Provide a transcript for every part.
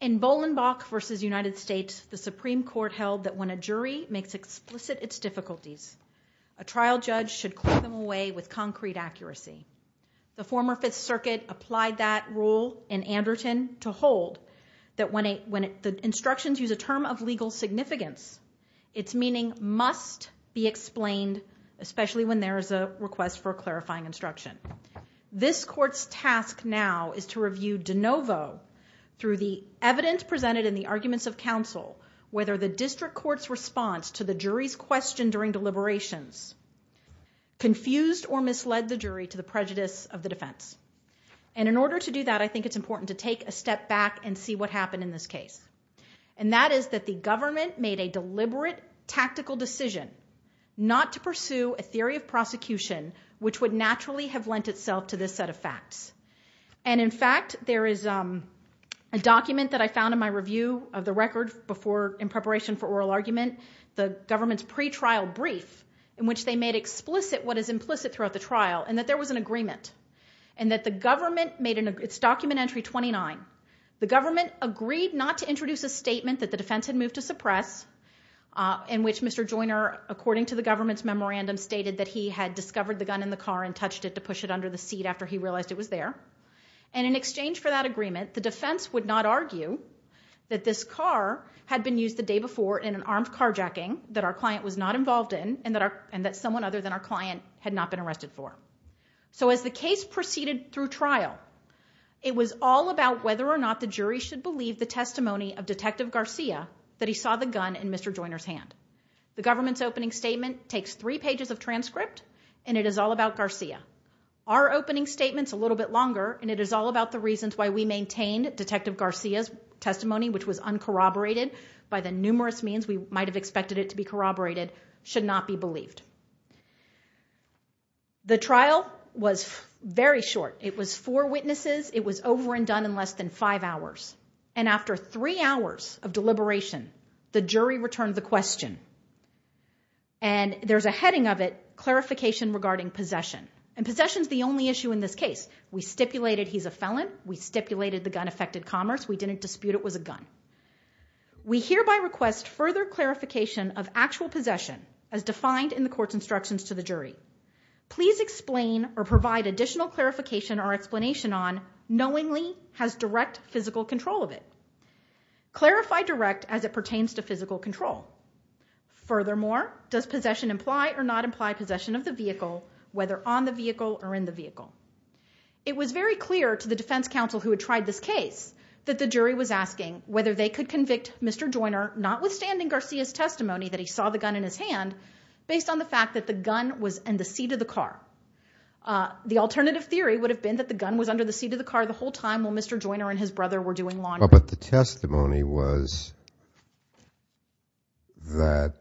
In Bolenbach v. United States, the Supreme Court held that when a jury makes explicit its difficulties, a trial judge should claw them away with concrete accuracy. The former Fifth Circuit applied that rule in Anderton to hold that when the instructions use a term of legal significance, its meaning must be explained, especially when there is a request for a clarifying instruction. This Court's task now is to review de novo through the evidence presented in the arguments of counsel whether the District Court's response to the jury's question during deliberations confused or misled the jury to the prejudice of the defense. And in order to do that, I think it's important to take a step back and see what happened in this case. And that is that the government made a deliberate tactical decision not to pursue a theory of prosecution which would naturally have lent itself to this set of facts. And in fact, there is a document that I found in my review of the record in preparation for oral argument, the government's pretrial brief, in which they made explicit what is implicit throughout the trial, and that there was an agreement. And that the government made an agreement. It's document entry 29. The government agreed not to introduce a statement that the defense had moved to suppress, in which Mr. Joyner, according to the government's memorandum, stated that he had discovered the gun in the car and touched it to push it under the seat after he realized it was there. And in exchange for that agreement, the defense would not argue that this car had been used the day before in an armed carjacking that our client was not involved in and that someone other than our client had not been arrested for. So as the case proceeded through trial, it was all about whether or not the jury should believe the testimony of Detective Garcia that he saw the gun in Mr. Joyner's hand. The government's opening statement takes three pages of transcript and it is all about Garcia. Our opening statement's a little bit longer and it is all about the reasons why we maintained Detective Garcia's testimony, which was uncorroborated by the numerous means we might have expected it to be corroborated, should not be believed. The trial was very short. It was four witnesses. It was over and done in less than five hours. And after three hours of deliberation, the jury returned the question. And there's a heading of it, Clarification Regarding Possession. And possession's the only issue in this case. We stipulated he's a felon. We stipulated the gun affected commerce. We didn't dispute it was a gun. We hereby request further clarification of actual possession as defined in the court's instructions to the jury. Please explain or provide additional clarification or explanation on knowingly has direct physical control of it. Clarify direct as it pertains to physical control. Furthermore, does possession imply or not imply possession of the vehicle, whether on the vehicle or in the vehicle? It was very clear to the defense counsel who had tried this case that the jury was asking whether they could convict Mr. Joyner, notwithstanding Garcia's testimony that he saw the gun in his hand, based on the fact that the gun was in the seat of the car. The alternative theory would have been that the gun was under the seat of the car the whole time while Mr. Joyner and his brother were doing laundry. But the testimony was that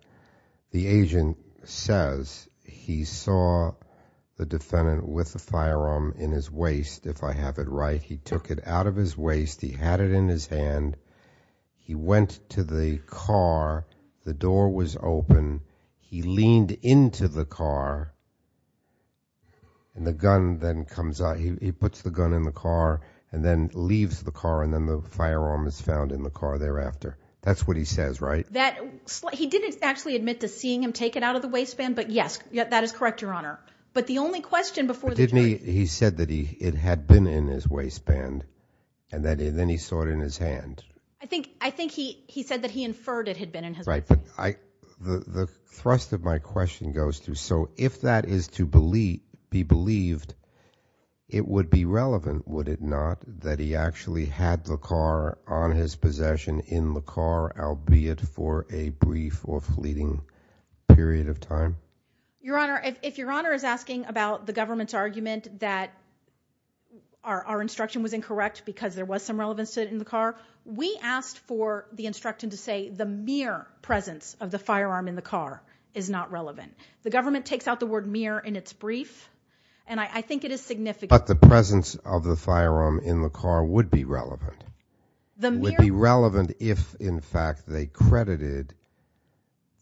the agent says he saw the defendant with the firearm in his waist. If I have it right, he took it out of his waist, he had it in his hand, he went to the car, the door was open, he leaned into the car, and the gun then comes out. He puts the gun in the car and then leaves the car and then the firearm is found in the car thereafter. That's what he says, right? He didn't actually admit to seeing him take it out of the waistband, but yes, that is correct, Your Honor. But the only question before the jury... He said that it had been in his waistband and then he saw it in his hand. I think he said that he inferred it had been in his waistband. Right, but the thrust of my question goes to, so if that is to be believed, it would be relevant, would it not, that he actually had the car on his possession in the car, albeit for a brief or fleeting period of time? Your Honor, if Your Honor is asking about the government's argument that our instruction was incorrect because there was some relevance to it in the car, we asked for the instruction to say the mere presence of the firearm in the car is not relevant. The government takes out the word mere in its brief, and I think it is significant. But the presence of the firearm in the car would be relevant. It would be relevant if, in fact, they credited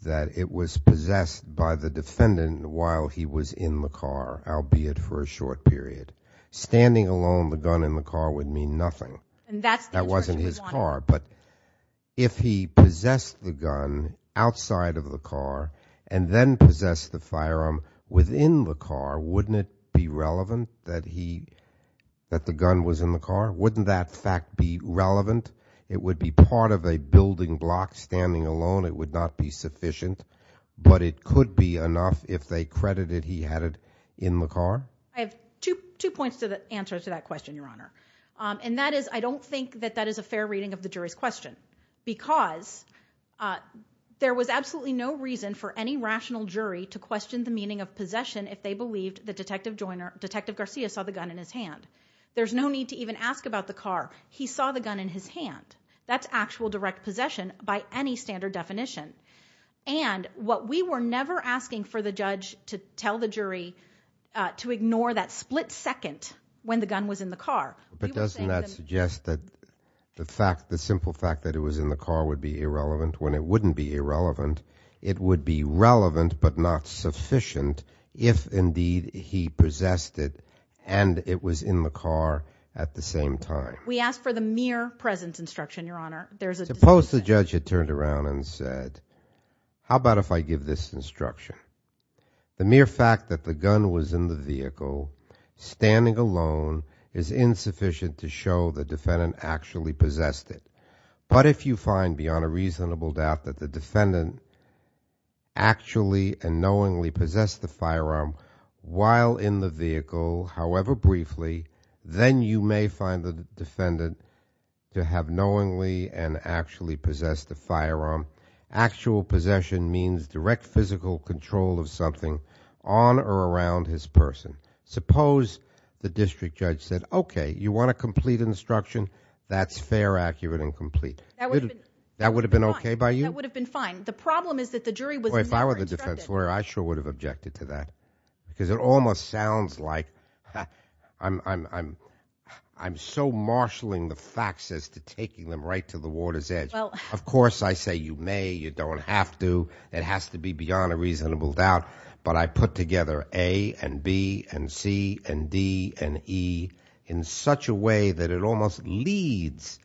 that it was possessed by the defendant while he was in the car, albeit for a short period. Standing alone with a gun in the car would mean nothing. And that's the instruction we wanted. That wasn't his car. But if he possessed the gun outside of the car and then possessed the firearm within the car, wouldn't it be relevant that the gun was in the car? Wouldn't that fact be relevant? It would be part of a building block. Standing alone, it would not be sufficient. But it could be enough if they credited he had it in the car. I have two points to answer to that question, Your Honor. And that is, I don't think that that is a fair reading of the jury's question. Because there was absolutely no reason for any rational jury to question the meaning of possession if they believed that Detective Joyner, Detective Garcia saw the gun in his hand. There's no need to even ask about the gun in his hand. That's actual direct possession by any standard definition. And what we were never asking for the judge to tell the jury to ignore that split second when the gun was in the car. But doesn't that suggest that the simple fact that it was in the car would be irrelevant when it wouldn't be irrelevant? It would be relevant but not sufficient if indeed he possessed it and it was in the car at the same time. We asked for the mere presence instruction, Your Honor. Suppose the judge had turned around and said, how about if I give this instruction? The mere fact that the gun was in the vehicle, standing alone, is insufficient to show the defendant actually possessed it. But if you find beyond a reasonable doubt that the defendant actually and knowingly possessed the firearm while in the vehicle, however briefly, then you may find the defendant to have knowingly and actually possessed the firearm. Actual possession means direct physical control of something on or around his person. Suppose the district judge said, okay, you want a complete instruction? That's fair, accurate, and complete. That would have been okay by you? That would have been fine. The problem is that the jury was never instructed. If I were the defense lawyer, I sure would have objected to that. Because it almost sounds like I'm so marshalling the facts as to taking them right to the water's edge. Of course I say you may, you don't have to. It has to be beyond a reasonable doubt. But I put together A and B and C and D and E in such a way that it almost leads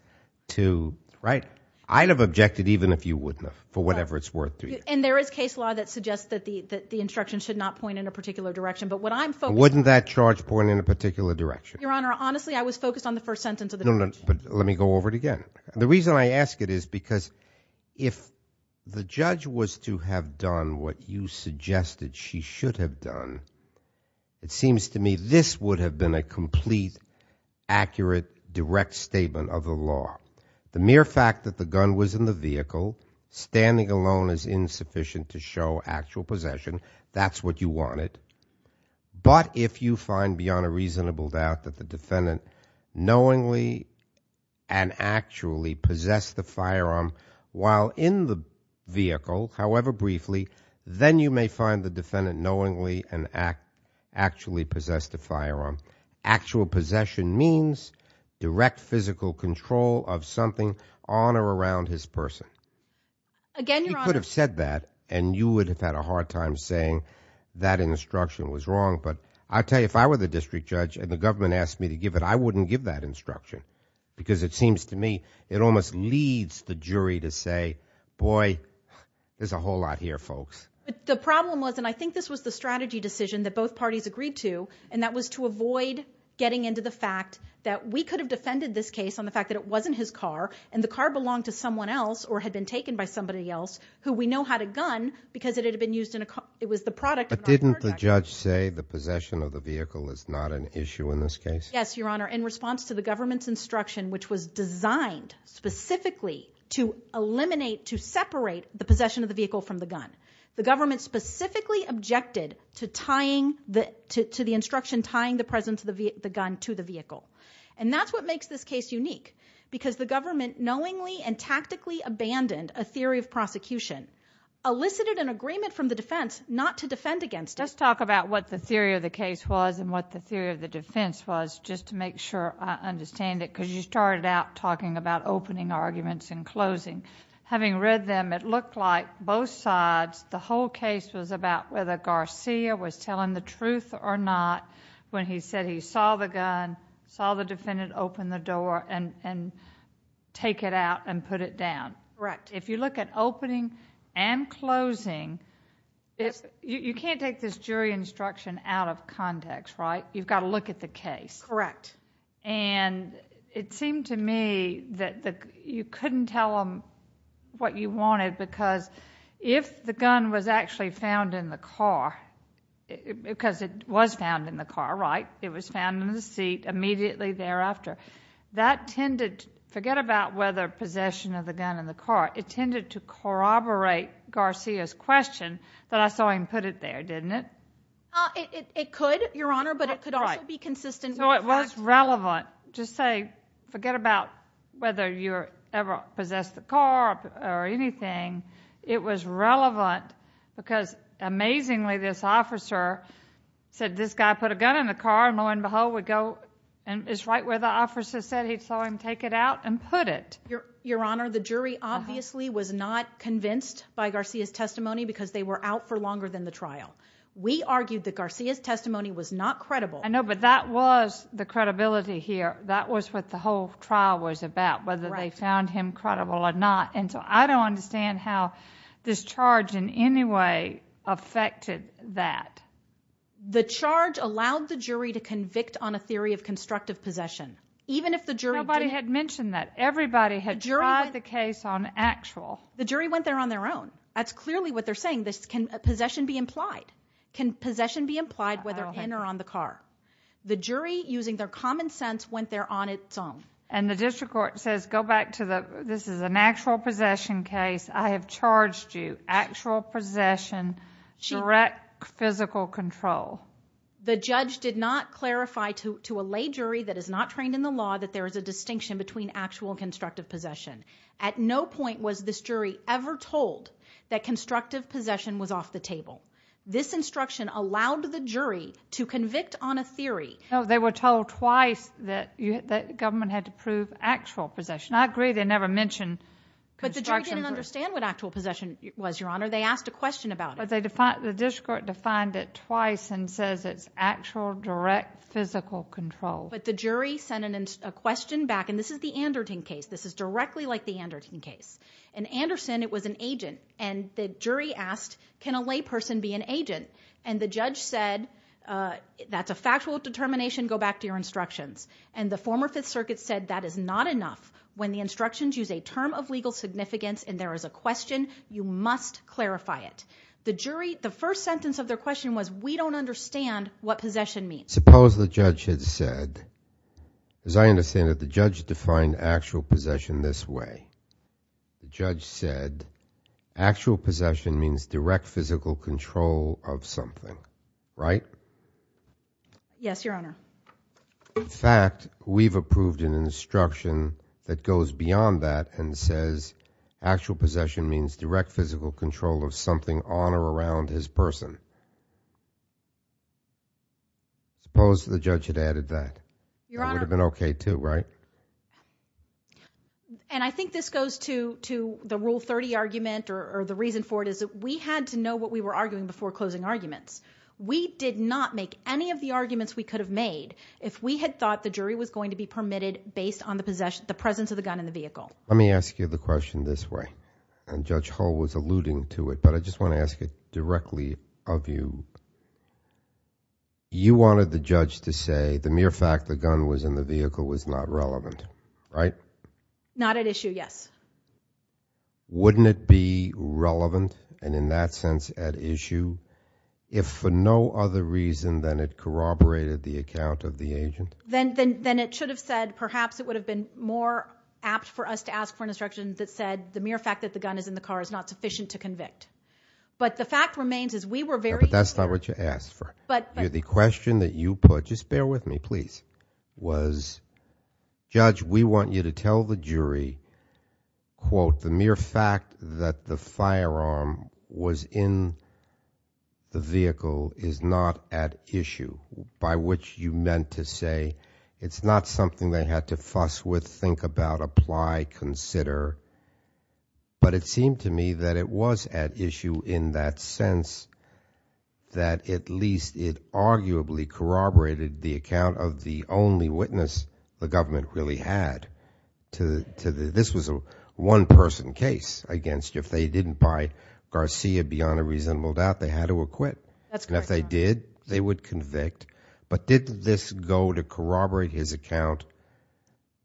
to, right, I'd have objected even if you wouldn't have for whatever it's worth to you. And there is case law that suggests that the instruction should not point in a particular direction. But what I'm focused on... Now wouldn't that charge point in a particular direction? Your Honor, honestly I was focused on the first sentence of the... No, no, but let me go over it again. The reason I ask it is because if the judge was to have done what you suggested she should have done, it seems to me this would have been a complete, accurate, direct statement of the law. The mere fact that the gun was in the vehicle, standing alone is insufficient to show actual possession. That's what you wanted. But if you find beyond a reasonable doubt that the defendant knowingly and actually possessed the firearm while in the vehicle, however briefly, then you may find the defendant knowingly and actually possessed the firearm. Actual possession means direct physical control of something on or around his person. Again, Your Honor... He could have said that and you would have had a hard time saying that instruction was wrong. But I'll tell you, if I were the district judge and the government asked me to give it, I wouldn't give that instruction. Because it seems to me it almost leads the jury to say, boy, there's a whole lot here, folks. The problem was, and I think this was the strategy decision that both parties agreed to, and that was to avoid getting into the fact that we could have defended this case on the fact that it wasn't his car and the car belonged to someone else or had been taken by somebody else who we know had a gun because it had been used in a car... It was the product of... But didn't the judge say the possession of the vehicle is not an issue in this case? Yes, Your Honor. In response to the government's instruction, which was designed specifically to eliminate, to separate the possession of the vehicle from the gun, the government specifically objected to tying the... To the instruction tying the presence of the gun to the vehicle. And that's what makes this case unique, because the government knowingly and tactically abandoned a theory of prosecution, elicited an agreement from the defense not to defend against it. Let's talk about what the theory of the case was and what the theory of the defense was just to make sure I understand it, because you started out talking about opening arguments and closing. Having read them, it looked like both sides, the whole case was about whether the truth or not, when he said he saw the gun, saw the defendant open the door, and take it out and put it down. Correct. If you look at opening and closing, you can't take this jury instruction out of context, right? You've got to look at the case. Correct. And it seemed to me that you couldn't tell them what you wanted, because if the gun was actually found in the car, because it was found in the car, right? It was found in the seat immediately thereafter. That tended to... Forget about whether possession of the gun in the car, it tended to corroborate Garcia's question that I saw him put it there, didn't it? It could, Your Honor, but it could also be consistent with the fact... So it was relevant to say, forget about whether you ever possessed the car or anything, it was relevant because, amazingly, this officer said, this guy put a gun in the car, and lo and behold, it's right where the officer said he saw him take it out and put it. Your Honor, the jury obviously was not convinced by Garcia's testimony, because they were out for longer than the trial. We argued that Garcia's testimony was not credible. I know, but that was the credibility here. That was what the whole trial was about, whether they found him credible or not, and so I don't understand how this charge in any way affected that. The charge allowed the jury to convict on a theory of constructive possession, even if the jury didn't... Nobody had mentioned that. Everybody had tried the case on actual. The jury went there on their own. That's clearly what they're saying. Can possession be implied? Can possession be implied whether in or on the car? The jury, using their common sense, went there on its own. And the district court says, go back to the... This is an actual possession case. I have charged you actual possession, direct physical control. The judge did not clarify to a lay jury that is not trained in the law that there is a distinction between actual and constructive possession. At no point was this jury ever told that constructive possession was off the table. This instruction allowed the jury to convict on a theory... No, they were told twice that the government had to prove actual possession. I agree they never mentioned... But the jury didn't understand what actual possession was, Your Honor. They asked a question about it. But the district court defined it twice and says it's actual direct physical control. But the jury sent a question back, and this is the Anderton case. This is directly like the Anderton case. In Anderson, it was an agent, and the jury asked, can a lay person be an agent? And the judge said, that's a factual determination. Go back to your instructions. And the former Fifth Circuit said that is not enough. When the instructions use a term of legal significance and there is a question, you must clarify it. The jury, the first sentence of their question was, we don't understand what possession means. Suppose the judge had said, as I understand it, the judge defined actual possession this way. The judge said, actual possession means direct physical control of something, right? Yes, Your Honor. In fact, we've approved an instruction that goes beyond that and says, actual possession means direct physical control of something on or around his person. Suppose the judge had added that. Your Honor... That would have been okay, too, right? And I think this goes to the Rule 30 argument, or the reason for it is that we had to know what we were arguing before closing arguments. We did not make any of the arguments we could have made if we had thought the jury was going to be permitted based on the presence of the gun in the vehicle. Let me ask you the question this way, and Judge Hull was alluding to it, but I just want to ask it directly of you. You wanted the judge to say the mere fact the gun was in the vehicle was not relevant, right? Not at issue, yes. Wouldn't it be relevant, and in that sense at issue, if for no other reason than it corroborated the account of the agent? Then it should have said, perhaps it would have been more apt for us to ask for an instruction that said the mere fact that the gun is in the car is not sufficient to convict. But the fact remains is we were very... But that's not what you asked for. The question that you put, just bear with me please, was, Judge, we want you to tell the jury, quote, the mere fact that the firearm was in the vehicle is not at issue, by which you meant to say it's not something they had to fuss with, think about, apply, consider. But it seemed to me that it was at issue in that sense that at least it arguably corroborated the account of the only witness the government really had. This was a one-person case against if they didn't buy Garcia beyond a reasonable doubt, they had to acquit, and if they did, they would convict. But did this go to corroborate his account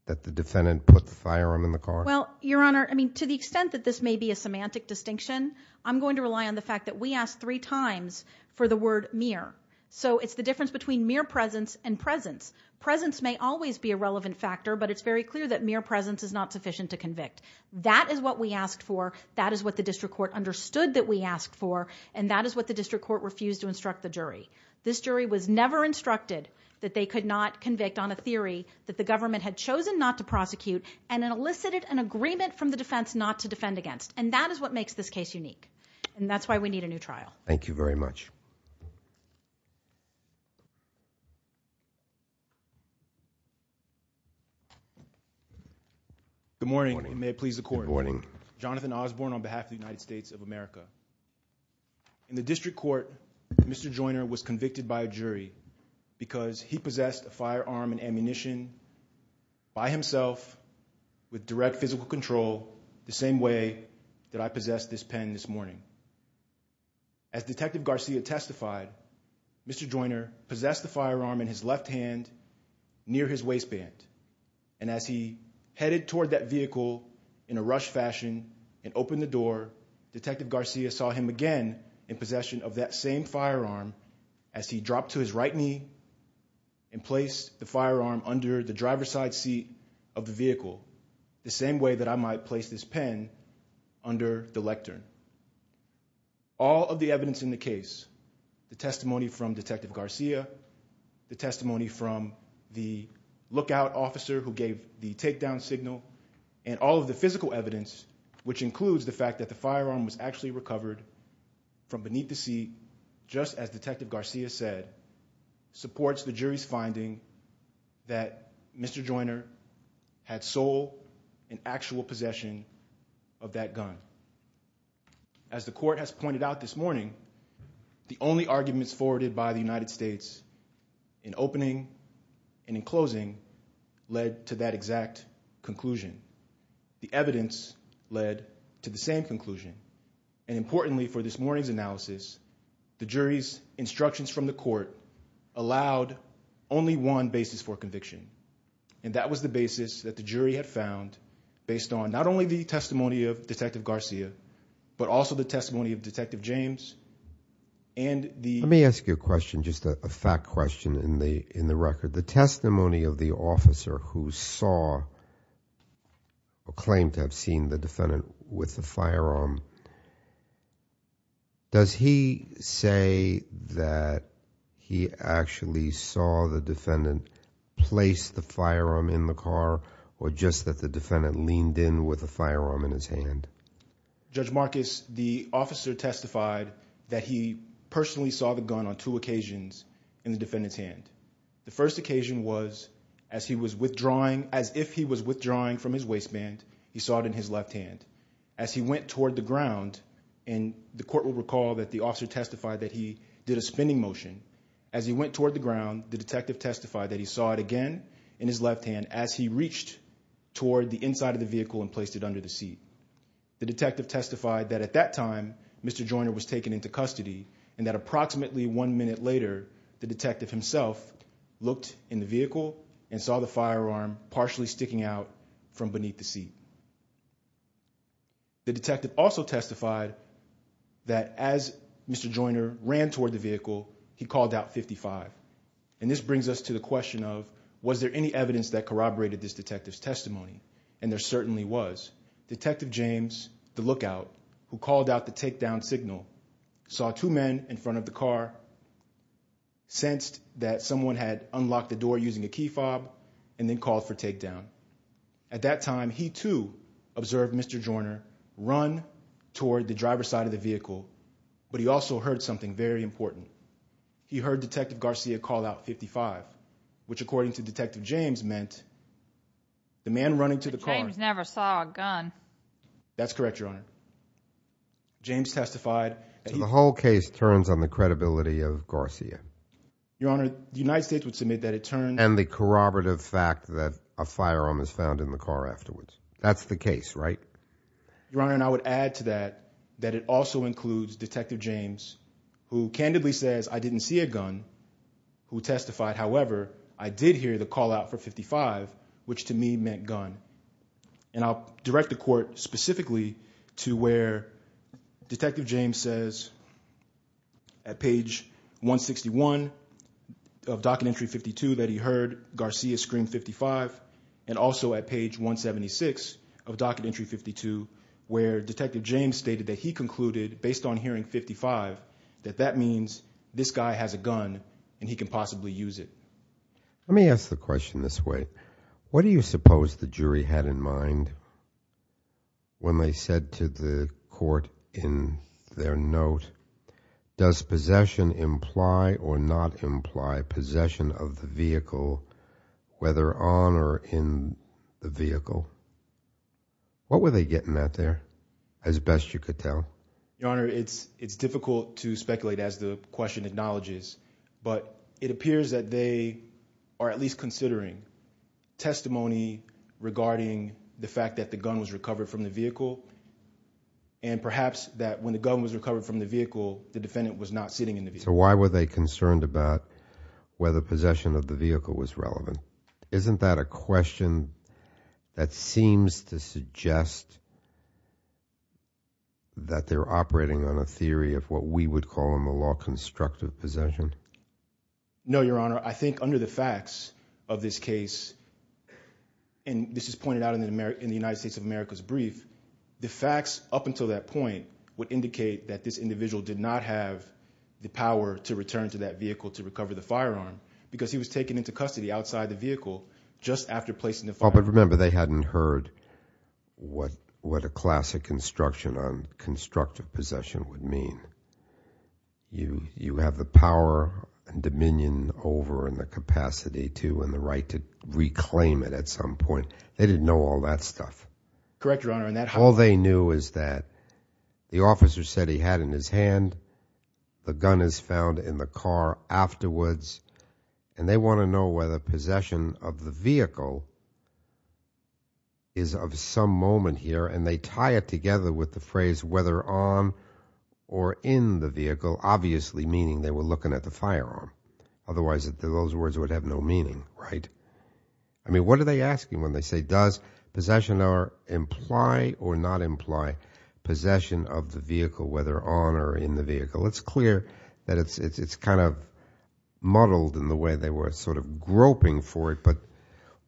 that the defendant put the firearm in the car? Well, Your Honor, I mean, to the extent that this may be a semantic distinction, I'm going to rely on the fact that we asked three times for the word mere. So it's the difference between mere presence and presence. Presence may always be a relevant factor, but it's very clear that mere presence is not sufficient to convict. That is what we asked for, that is what the district court understood that we asked for, and that is what the district court refused to instruct the jury. This jury was never instructed that they could not convict on a theory that the government had chosen not to prosecute, and it elicited an agreement from the defense not to defend against. And that is what makes this case unique, and that's why we need a new trial. Thank you very much. Good morning, and may it please the Court. Good morning. Jonathan Osborne on behalf of the United States of America. In the district court, Mr. Joyner was convicted by a jury because he possessed a firearm and ammunition by himself with direct physical control the same way that I possessed this pen this morning. As Detective Garcia testified, Mr. Joyner possessed the firearm in his left hand near his waistband, and as he headed toward that vehicle in a rushed fashion and opened the door, Detective Garcia saw him again in possession of that same firearm as he dropped to his right knee and placed the firearm under the driver's side seat of the vehicle the same way that I might place this pen under the lectern. All of the evidence in the case, the testimony from Detective Garcia, the testimony from the lookout officer who gave the takedown signal, and all of the evidence recovered from beneath the seat, just as Detective Garcia said, supports the jury's finding that Mr. Joyner had sole and actual possession of that gun. As the Court has pointed out this morning, the only arguments forwarded by the United States in opening and in closing led to that exact conclusion. The evidence led to the same conclusion, and importantly for this morning's analysis, the jury's instructions from the Court allowed only one basis for conviction, and that was the basis that the jury had found based on not only the testimony of Detective Garcia, but also the testimony of Detective James and the... Let me ask you a question, just a fact question in the record. The testimony of the officer who saw or claimed to have seen the defendant with the firearm, does he say that he actually saw the defendant place the firearm in the car, or just that the defendant leaned in with the firearm in his hand? Judge Marcus, the officer testified that he personally saw the gun on two occasions in the defendant's hand. The first occasion was as he was withdrawing, as if he was withdrawing from his waistband, he saw it in his left hand. As he went toward the ground, and the Court will recall that the officer testified that he did a spinning motion, as he went toward the ground, the detective testified that he saw it again in his left hand as he reached toward the inside of the vehicle and placed it under the seat. The detective testified that at that time, Mr. Joyner was taken into custody, and that approximately one minute later, the detective himself looked in the vehicle and saw the firearm partially sticking out from beneath the seat. The detective also testified that as Mr. Joyner ran toward the vehicle, he called out 55. And this brings us to the question of, was there any evidence that corroborated this detective's testimony? And there certainly was. Detective James, the lookout, who called out the takedown signal, saw two men in front of the car, sensed that someone had unlocked the door using a key fob, and then called for takedown. At that time, he, too, observed Mr. Joyner run toward the driver's side of the vehicle, but he also heard something very important. He heard Detective Garcia call out 55, which, according to Detective James, meant the man running to the car... But James never saw a gun. That's correct, Your Honor. James testified... So the whole case turns on the credibility of Garcia. Your Honor, the United States would submit that it turns... And the corroborative fact that a firearm is found in the car afterwards. That's the case, right? Your Honor, and I would add to that, that it also includes Detective James, who candidly says, I didn't see a gun, who testified, however, I did hear the call out for 55, which to me meant gun. And I'll direct the court specifically to where Detective James says, at page 161 of docket entry 52, that he heard Garcia scream 55, and also at page 176 of docket entry 52, where Detective James stated that he concluded, based on hearing 55, that that means this guy has a gun, and he can possibly use it. Let me ask the question this way. What do you suppose the jury had in mind when they said to the court in their note, does possession imply or not imply possession of the vehicle, whether on or in the vehicle? What were they getting at there, as best you could tell? Your Honor, it's difficult to speculate as the question acknowledges, but it appears that they are at least considering testimony regarding the fact that the gun was recovered from the vehicle, and perhaps that when the gun was recovered from the vehicle, the defendant was not sitting in the vehicle. So why were they concerned about whether possession of the vehicle was relevant? Isn't that a theory of what we would call in the law constructive possession? No, Your Honor. I think under the facts of this case, and this is pointed out in the United States of America's brief, the facts up until that point would indicate that this individual did not have the power to return to that vehicle to recover the firearm, because he was taken into custody outside the vehicle just after placing the firearm. But remember, they hadn't heard what a classic construction on constructive possession would mean. You have the power and dominion over and the capacity to and the right to reclaim it at some point. They didn't know all that stuff. Correct, Your Honor. All they knew is that the officer said he had in his hand, the gun is found in the car afterwards, and they want to know whether possession of the vehicle is of some moment here, and they tie it together with the phrase whether on or in the vehicle, obviously meaning they were looking at the firearm. Otherwise, those words would have no meaning, right? I mean, what are they asking when they say does possession imply or not imply possession of the vehicle, whether on or in the vehicle? It's clear that it's kind of muddled in the way they were sort of groping for it, but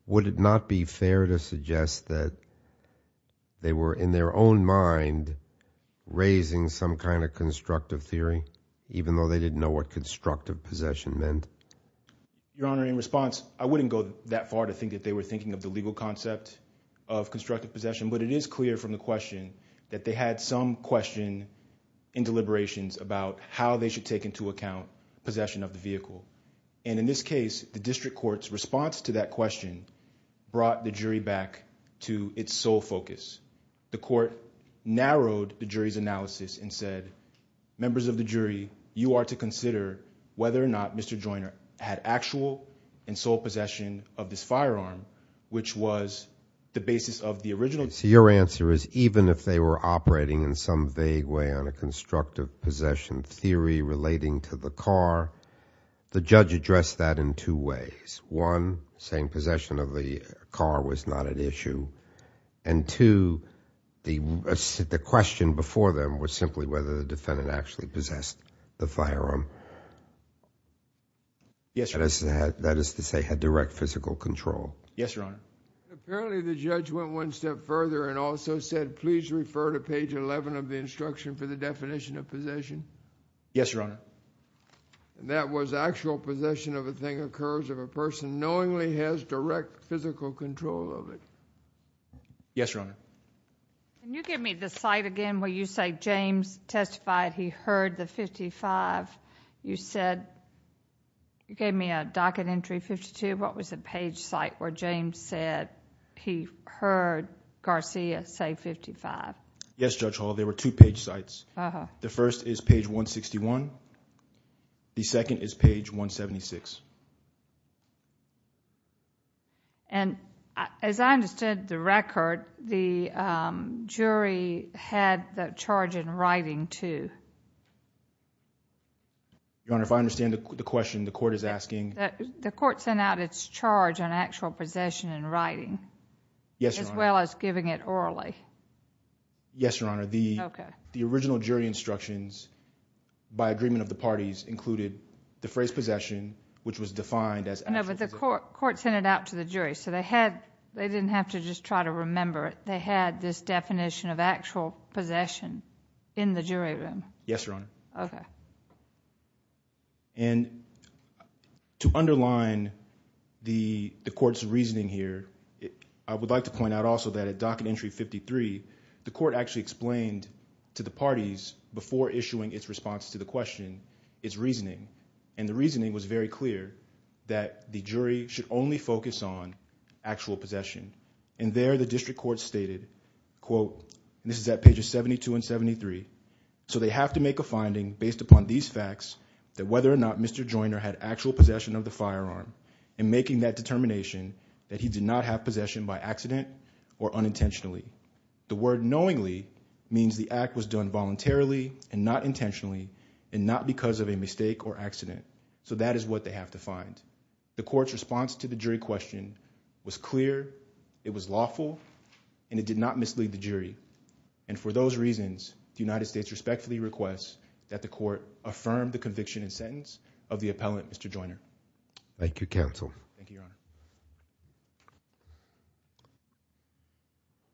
would it not be fair to suggest that they were in their own mind raising some kind of constructive theory, even though they didn't know what constructive possession meant? Your Honor, in response, I wouldn't go that far to think that they were thinking of the legal concept of constructive possession, but it is clear from the question that they had some question and deliberations about how they should take into account possession of the vehicle. And in this case, the district court's response to that question brought the jury back to its sole focus. The court narrowed the jury's analysis and said, members of the jury, you are to consider whether or not Mr. Joyner had actual and sole possession of this firearm, which was the basis of the original. So your answer is even if they were operating in some vague way on a constructive possession theory relating to the car, the judge addressed that in two ways. One, saying possession of the car was not an issue. And two, the question before them was simply whether the defendant actually possessed the firearm. Yes, Your Honor. That is to say, had direct physical control. Yes, Your Honor. Apparently, the judge went one step further and also said, please refer to page 11 of the instruction for the definition of possession. Yes, Your Honor. And that was actual possession of a thing occurs if a person knowingly has direct physical control of it. Yes, Your Honor. Can you give me the site again where you say James testified he heard the .55? You gave me a docket entry 52. What was the page site where James said he heard Garcia say .55? Yes, Judge Hall. There were two page sites. Uh-huh. The first is page 161. The second is page 176. And as I understand the record, the jury had the charge in writing too. Your Honor, if I understand the question, the court is asking. The court sent out its charge on actual possession in writing. Yes, Your Honor. As well as giving it orally. Yes, Your Honor. Okay. The original jury instructions by agreement of the parties included the phrase possession, which was defined as actual possession. No, but the court sent it out to the jury. So they didn't have to just try to remember it. They had this definition of actual possession in the jury room. Yes, Your Honor. Okay. And to underline the court's reasoning here, I would like to point out also that at docket entry 53, the court actually explained to the parties before issuing its response to the question, its reasoning. And the reasoning was very clear that the jury should only focus on actual possession. And there the district court stated, quote, this is at pages 72 and 73. So they have to make a finding based upon these facts that whether or not Mr. Joyner had actual possession of the firearm and making that determination that he did not have possession by accident or unintentionally. The word knowingly means the act was done voluntarily and not intentionally and not because of a mistake or accident. So that is what they have to find. The court's response to the jury question was clear, it was lawful, and it did not mislead the jury. And for those reasons, the United States respectfully requests that the court affirm the conviction and sentence of the appellant, Mr. Joyner. Thank you, counsel. Thank you, Your Honor.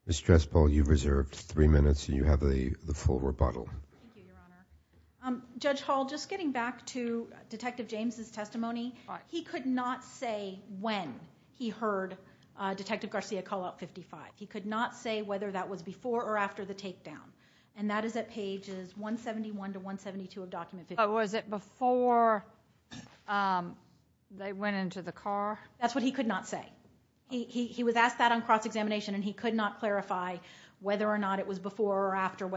Ms. Dresspel, you've reserved three minutes and you have the full rebuttal. Thank you, Your Honor. Judge Hall, just getting back to Detective James' testimony, he could not say when he heard Detective Garcia call out 55. He could not say whether that was before or after the takedown. And that is at pages 171 to 172 of document 55. Oh, was it before they went into the car? That's what he could not say. He was asked that on cross-examination and he could not clarify before or after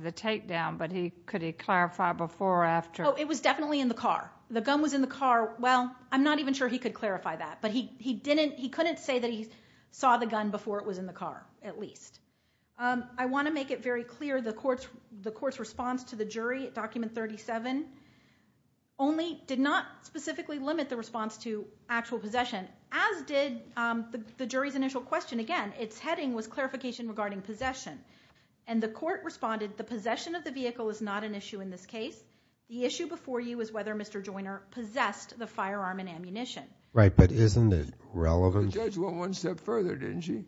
the takedown, but could he clarify before or after? Oh, it was definitely in the car. The gun was in the car. Well, I'm not even sure he could clarify that, but he couldn't say that he saw the gun before it was in the car, at least. I want to make it very clear, the court's response to the jury at document 37 only did not specifically limit the response to actual possession, as did the jury's initial question. Again, its heading was clarification regarding possession. And the court responded, the possession of the vehicle is not an issue in this case. The issue before you is whether Mr. Joyner possessed the firearm and ammunition. Right, but isn't it relevant? The judge went one step further, didn't she?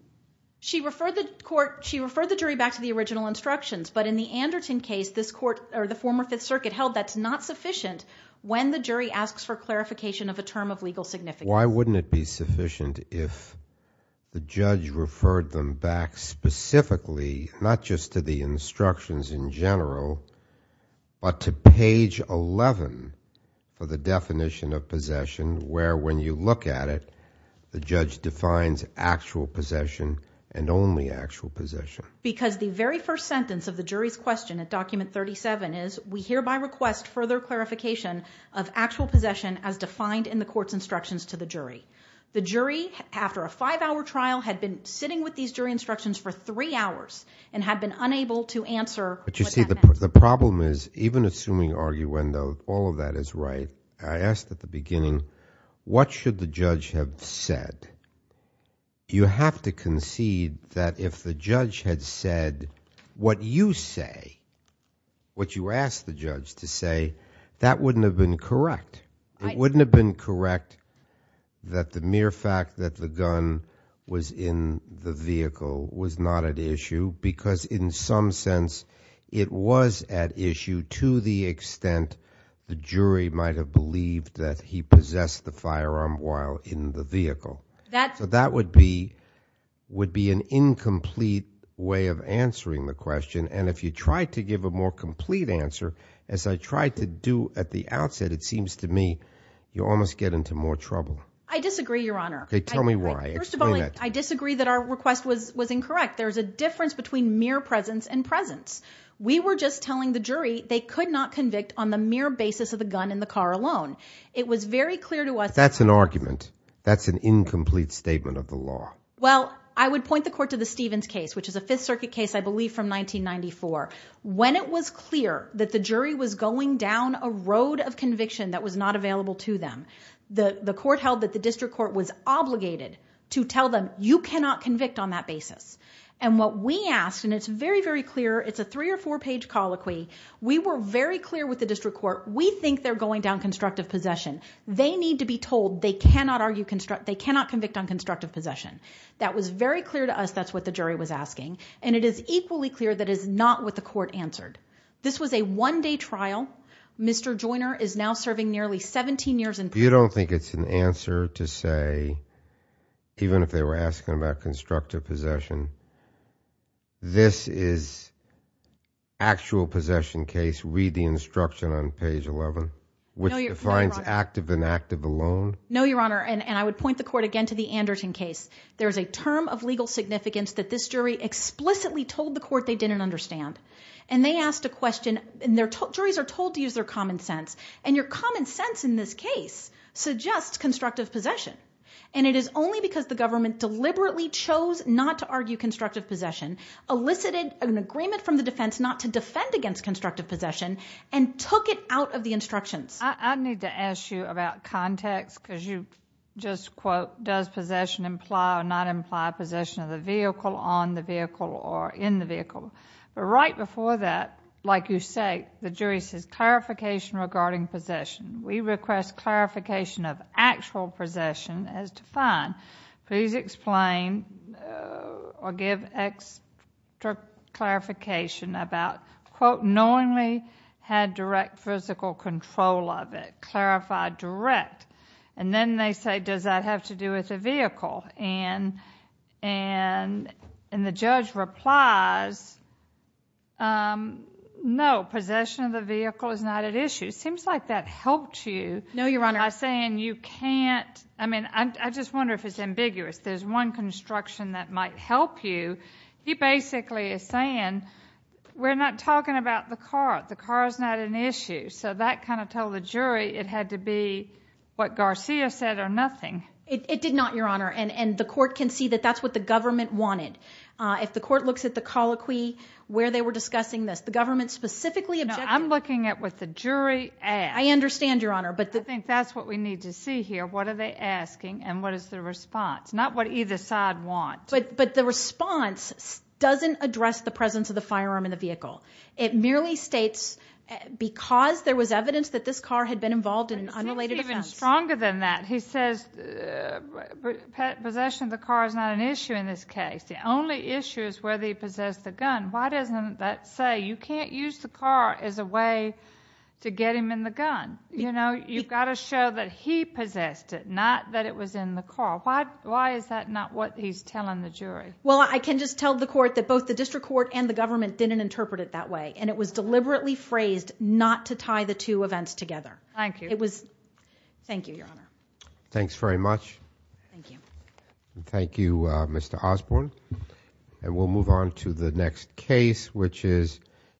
She referred the jury back to the original instructions, but in the Anderton case, the former Fifth Circuit held that's not sufficient when the jury asks for clarification of a term of legal significance. Why wouldn't it be sufficient if the judge referred them back specifically, not just to the instructions in general, but to page 11 for the definition of possession, where when you look at it, the judge defines actual possession and only actual possession? Because the very first sentence of the jury's question at document 37 is, we hereby request further clarification of actual possession as defined in the court's instructions to the jury. The jury, after a five-hour trial, had been sitting with these jury instructions for three hours and had been unable to answer what that meant. But you see, the problem is, even assuming arguendo, all of that is right, I asked at the beginning, what should the judge have said? You have to concede that if the judge had said what you say, what you asked the judge to say, that wouldn't have been correct. It wouldn't have been correct that the mere fact that the gun was in the vehicle was not at issue, because in some sense, it was at issue to the extent the jury might have believed that he possessed the firearm while in the vehicle. So that would be an incomplete way of answering the question, and if you try to give a more complete answer, as I tried to do at the outset, it seems to me you almost get into more trouble. I disagree, Your Honor. Tell me why. First of all, I disagree that our request was incorrect. There's a difference between mere presence and presence. We were just telling the jury they could not convict on the mere basis of the gun in the car alone. It was very clear to us that That's an argument. That's an incomplete statement of the law. Well, I would point the court to the Stevens case, which is a Fifth Circuit case, I believe, from 1994. When it was clear that the jury was going down a road of conviction that was not available to them, the court held that the district court was obligated to tell them, you cannot convict on that basis. And what we asked, and it's very, very clear, it's a three or four page colloquy, we were very clear with the district court, we think they're old, they cannot argue construct, they cannot convict on constructive possession. That was very clear to us. That's what the jury was asking. And it is equally clear that is not what the court answered. This was a one day trial. Mr. Joyner is now serving nearly 17 years in prison. You don't think it's an answer to say, even if they were asking about constructive possession, this is actual possession case, read the instruction on page 11, which defines active and active possession alone? No, Your Honor. And I would point the court again to the Anderton case. There's a term of legal significance that this jury explicitly told the court they didn't understand. And they asked a question, and their juries are told to use their common sense. And your common sense in this case suggests constructive possession. And it is only because the government deliberately chose not to argue constructive possession, elicited an agreement from the defense not to defend against constructive possession, and took it out of the instructions. I need to ask you about context, because you just, quote, does possession imply or not imply possession of the vehicle, on the vehicle, or in the vehicle. But right before that, like you say, the jury says, clarification regarding possession. We request clarification of actual possession as defined. Please explain or give extra clarification about, quote, knowingly had direct physical control of it. Clarify direct. And then they say, does that have to do with the vehicle? And the judge replies, no, possession of the vehicle is not at issue. Seems like that helped you. No, Your Honor. By saying you can't, I mean, I just wonder if it's ambiguous. There's one construction that might help you. He basically is saying, we're not talking about the car. The car is not an issue. So that kind of told the jury it had to be what Garcia said or nothing. It did not, Your Honor. And the court can see that that's what the government wanted. If the court looks at the colloquy where they were discussing this, the government specifically objected. No, I'm looking at what the jury asked. I understand, Your Honor. I think that's what we need to see here. What are they asking? And what is the response? Not what either side want. But the response doesn't address the presence of the firearm in the vehicle. It merely states because there was evidence that this car had been involved in an unrelated offense. It's even stronger than that. He says possession of the car is not an issue in this case. The only issue is whether he possessed the gun. Why doesn't that say you can't use the car as a way to get him in the gun? You've got to show that he possessed it, not that it was in the car. Why is that not what he's telling the jury? Well, I can just tell the court that both the district court and the government didn't interpret it that way. And it was deliberately phrased not to tie the two events together. Thank you. Thank you, Your Honor. Thanks very much. Thank you. Thank you, Mr. Osborne. And we'll move on to the next case, which is the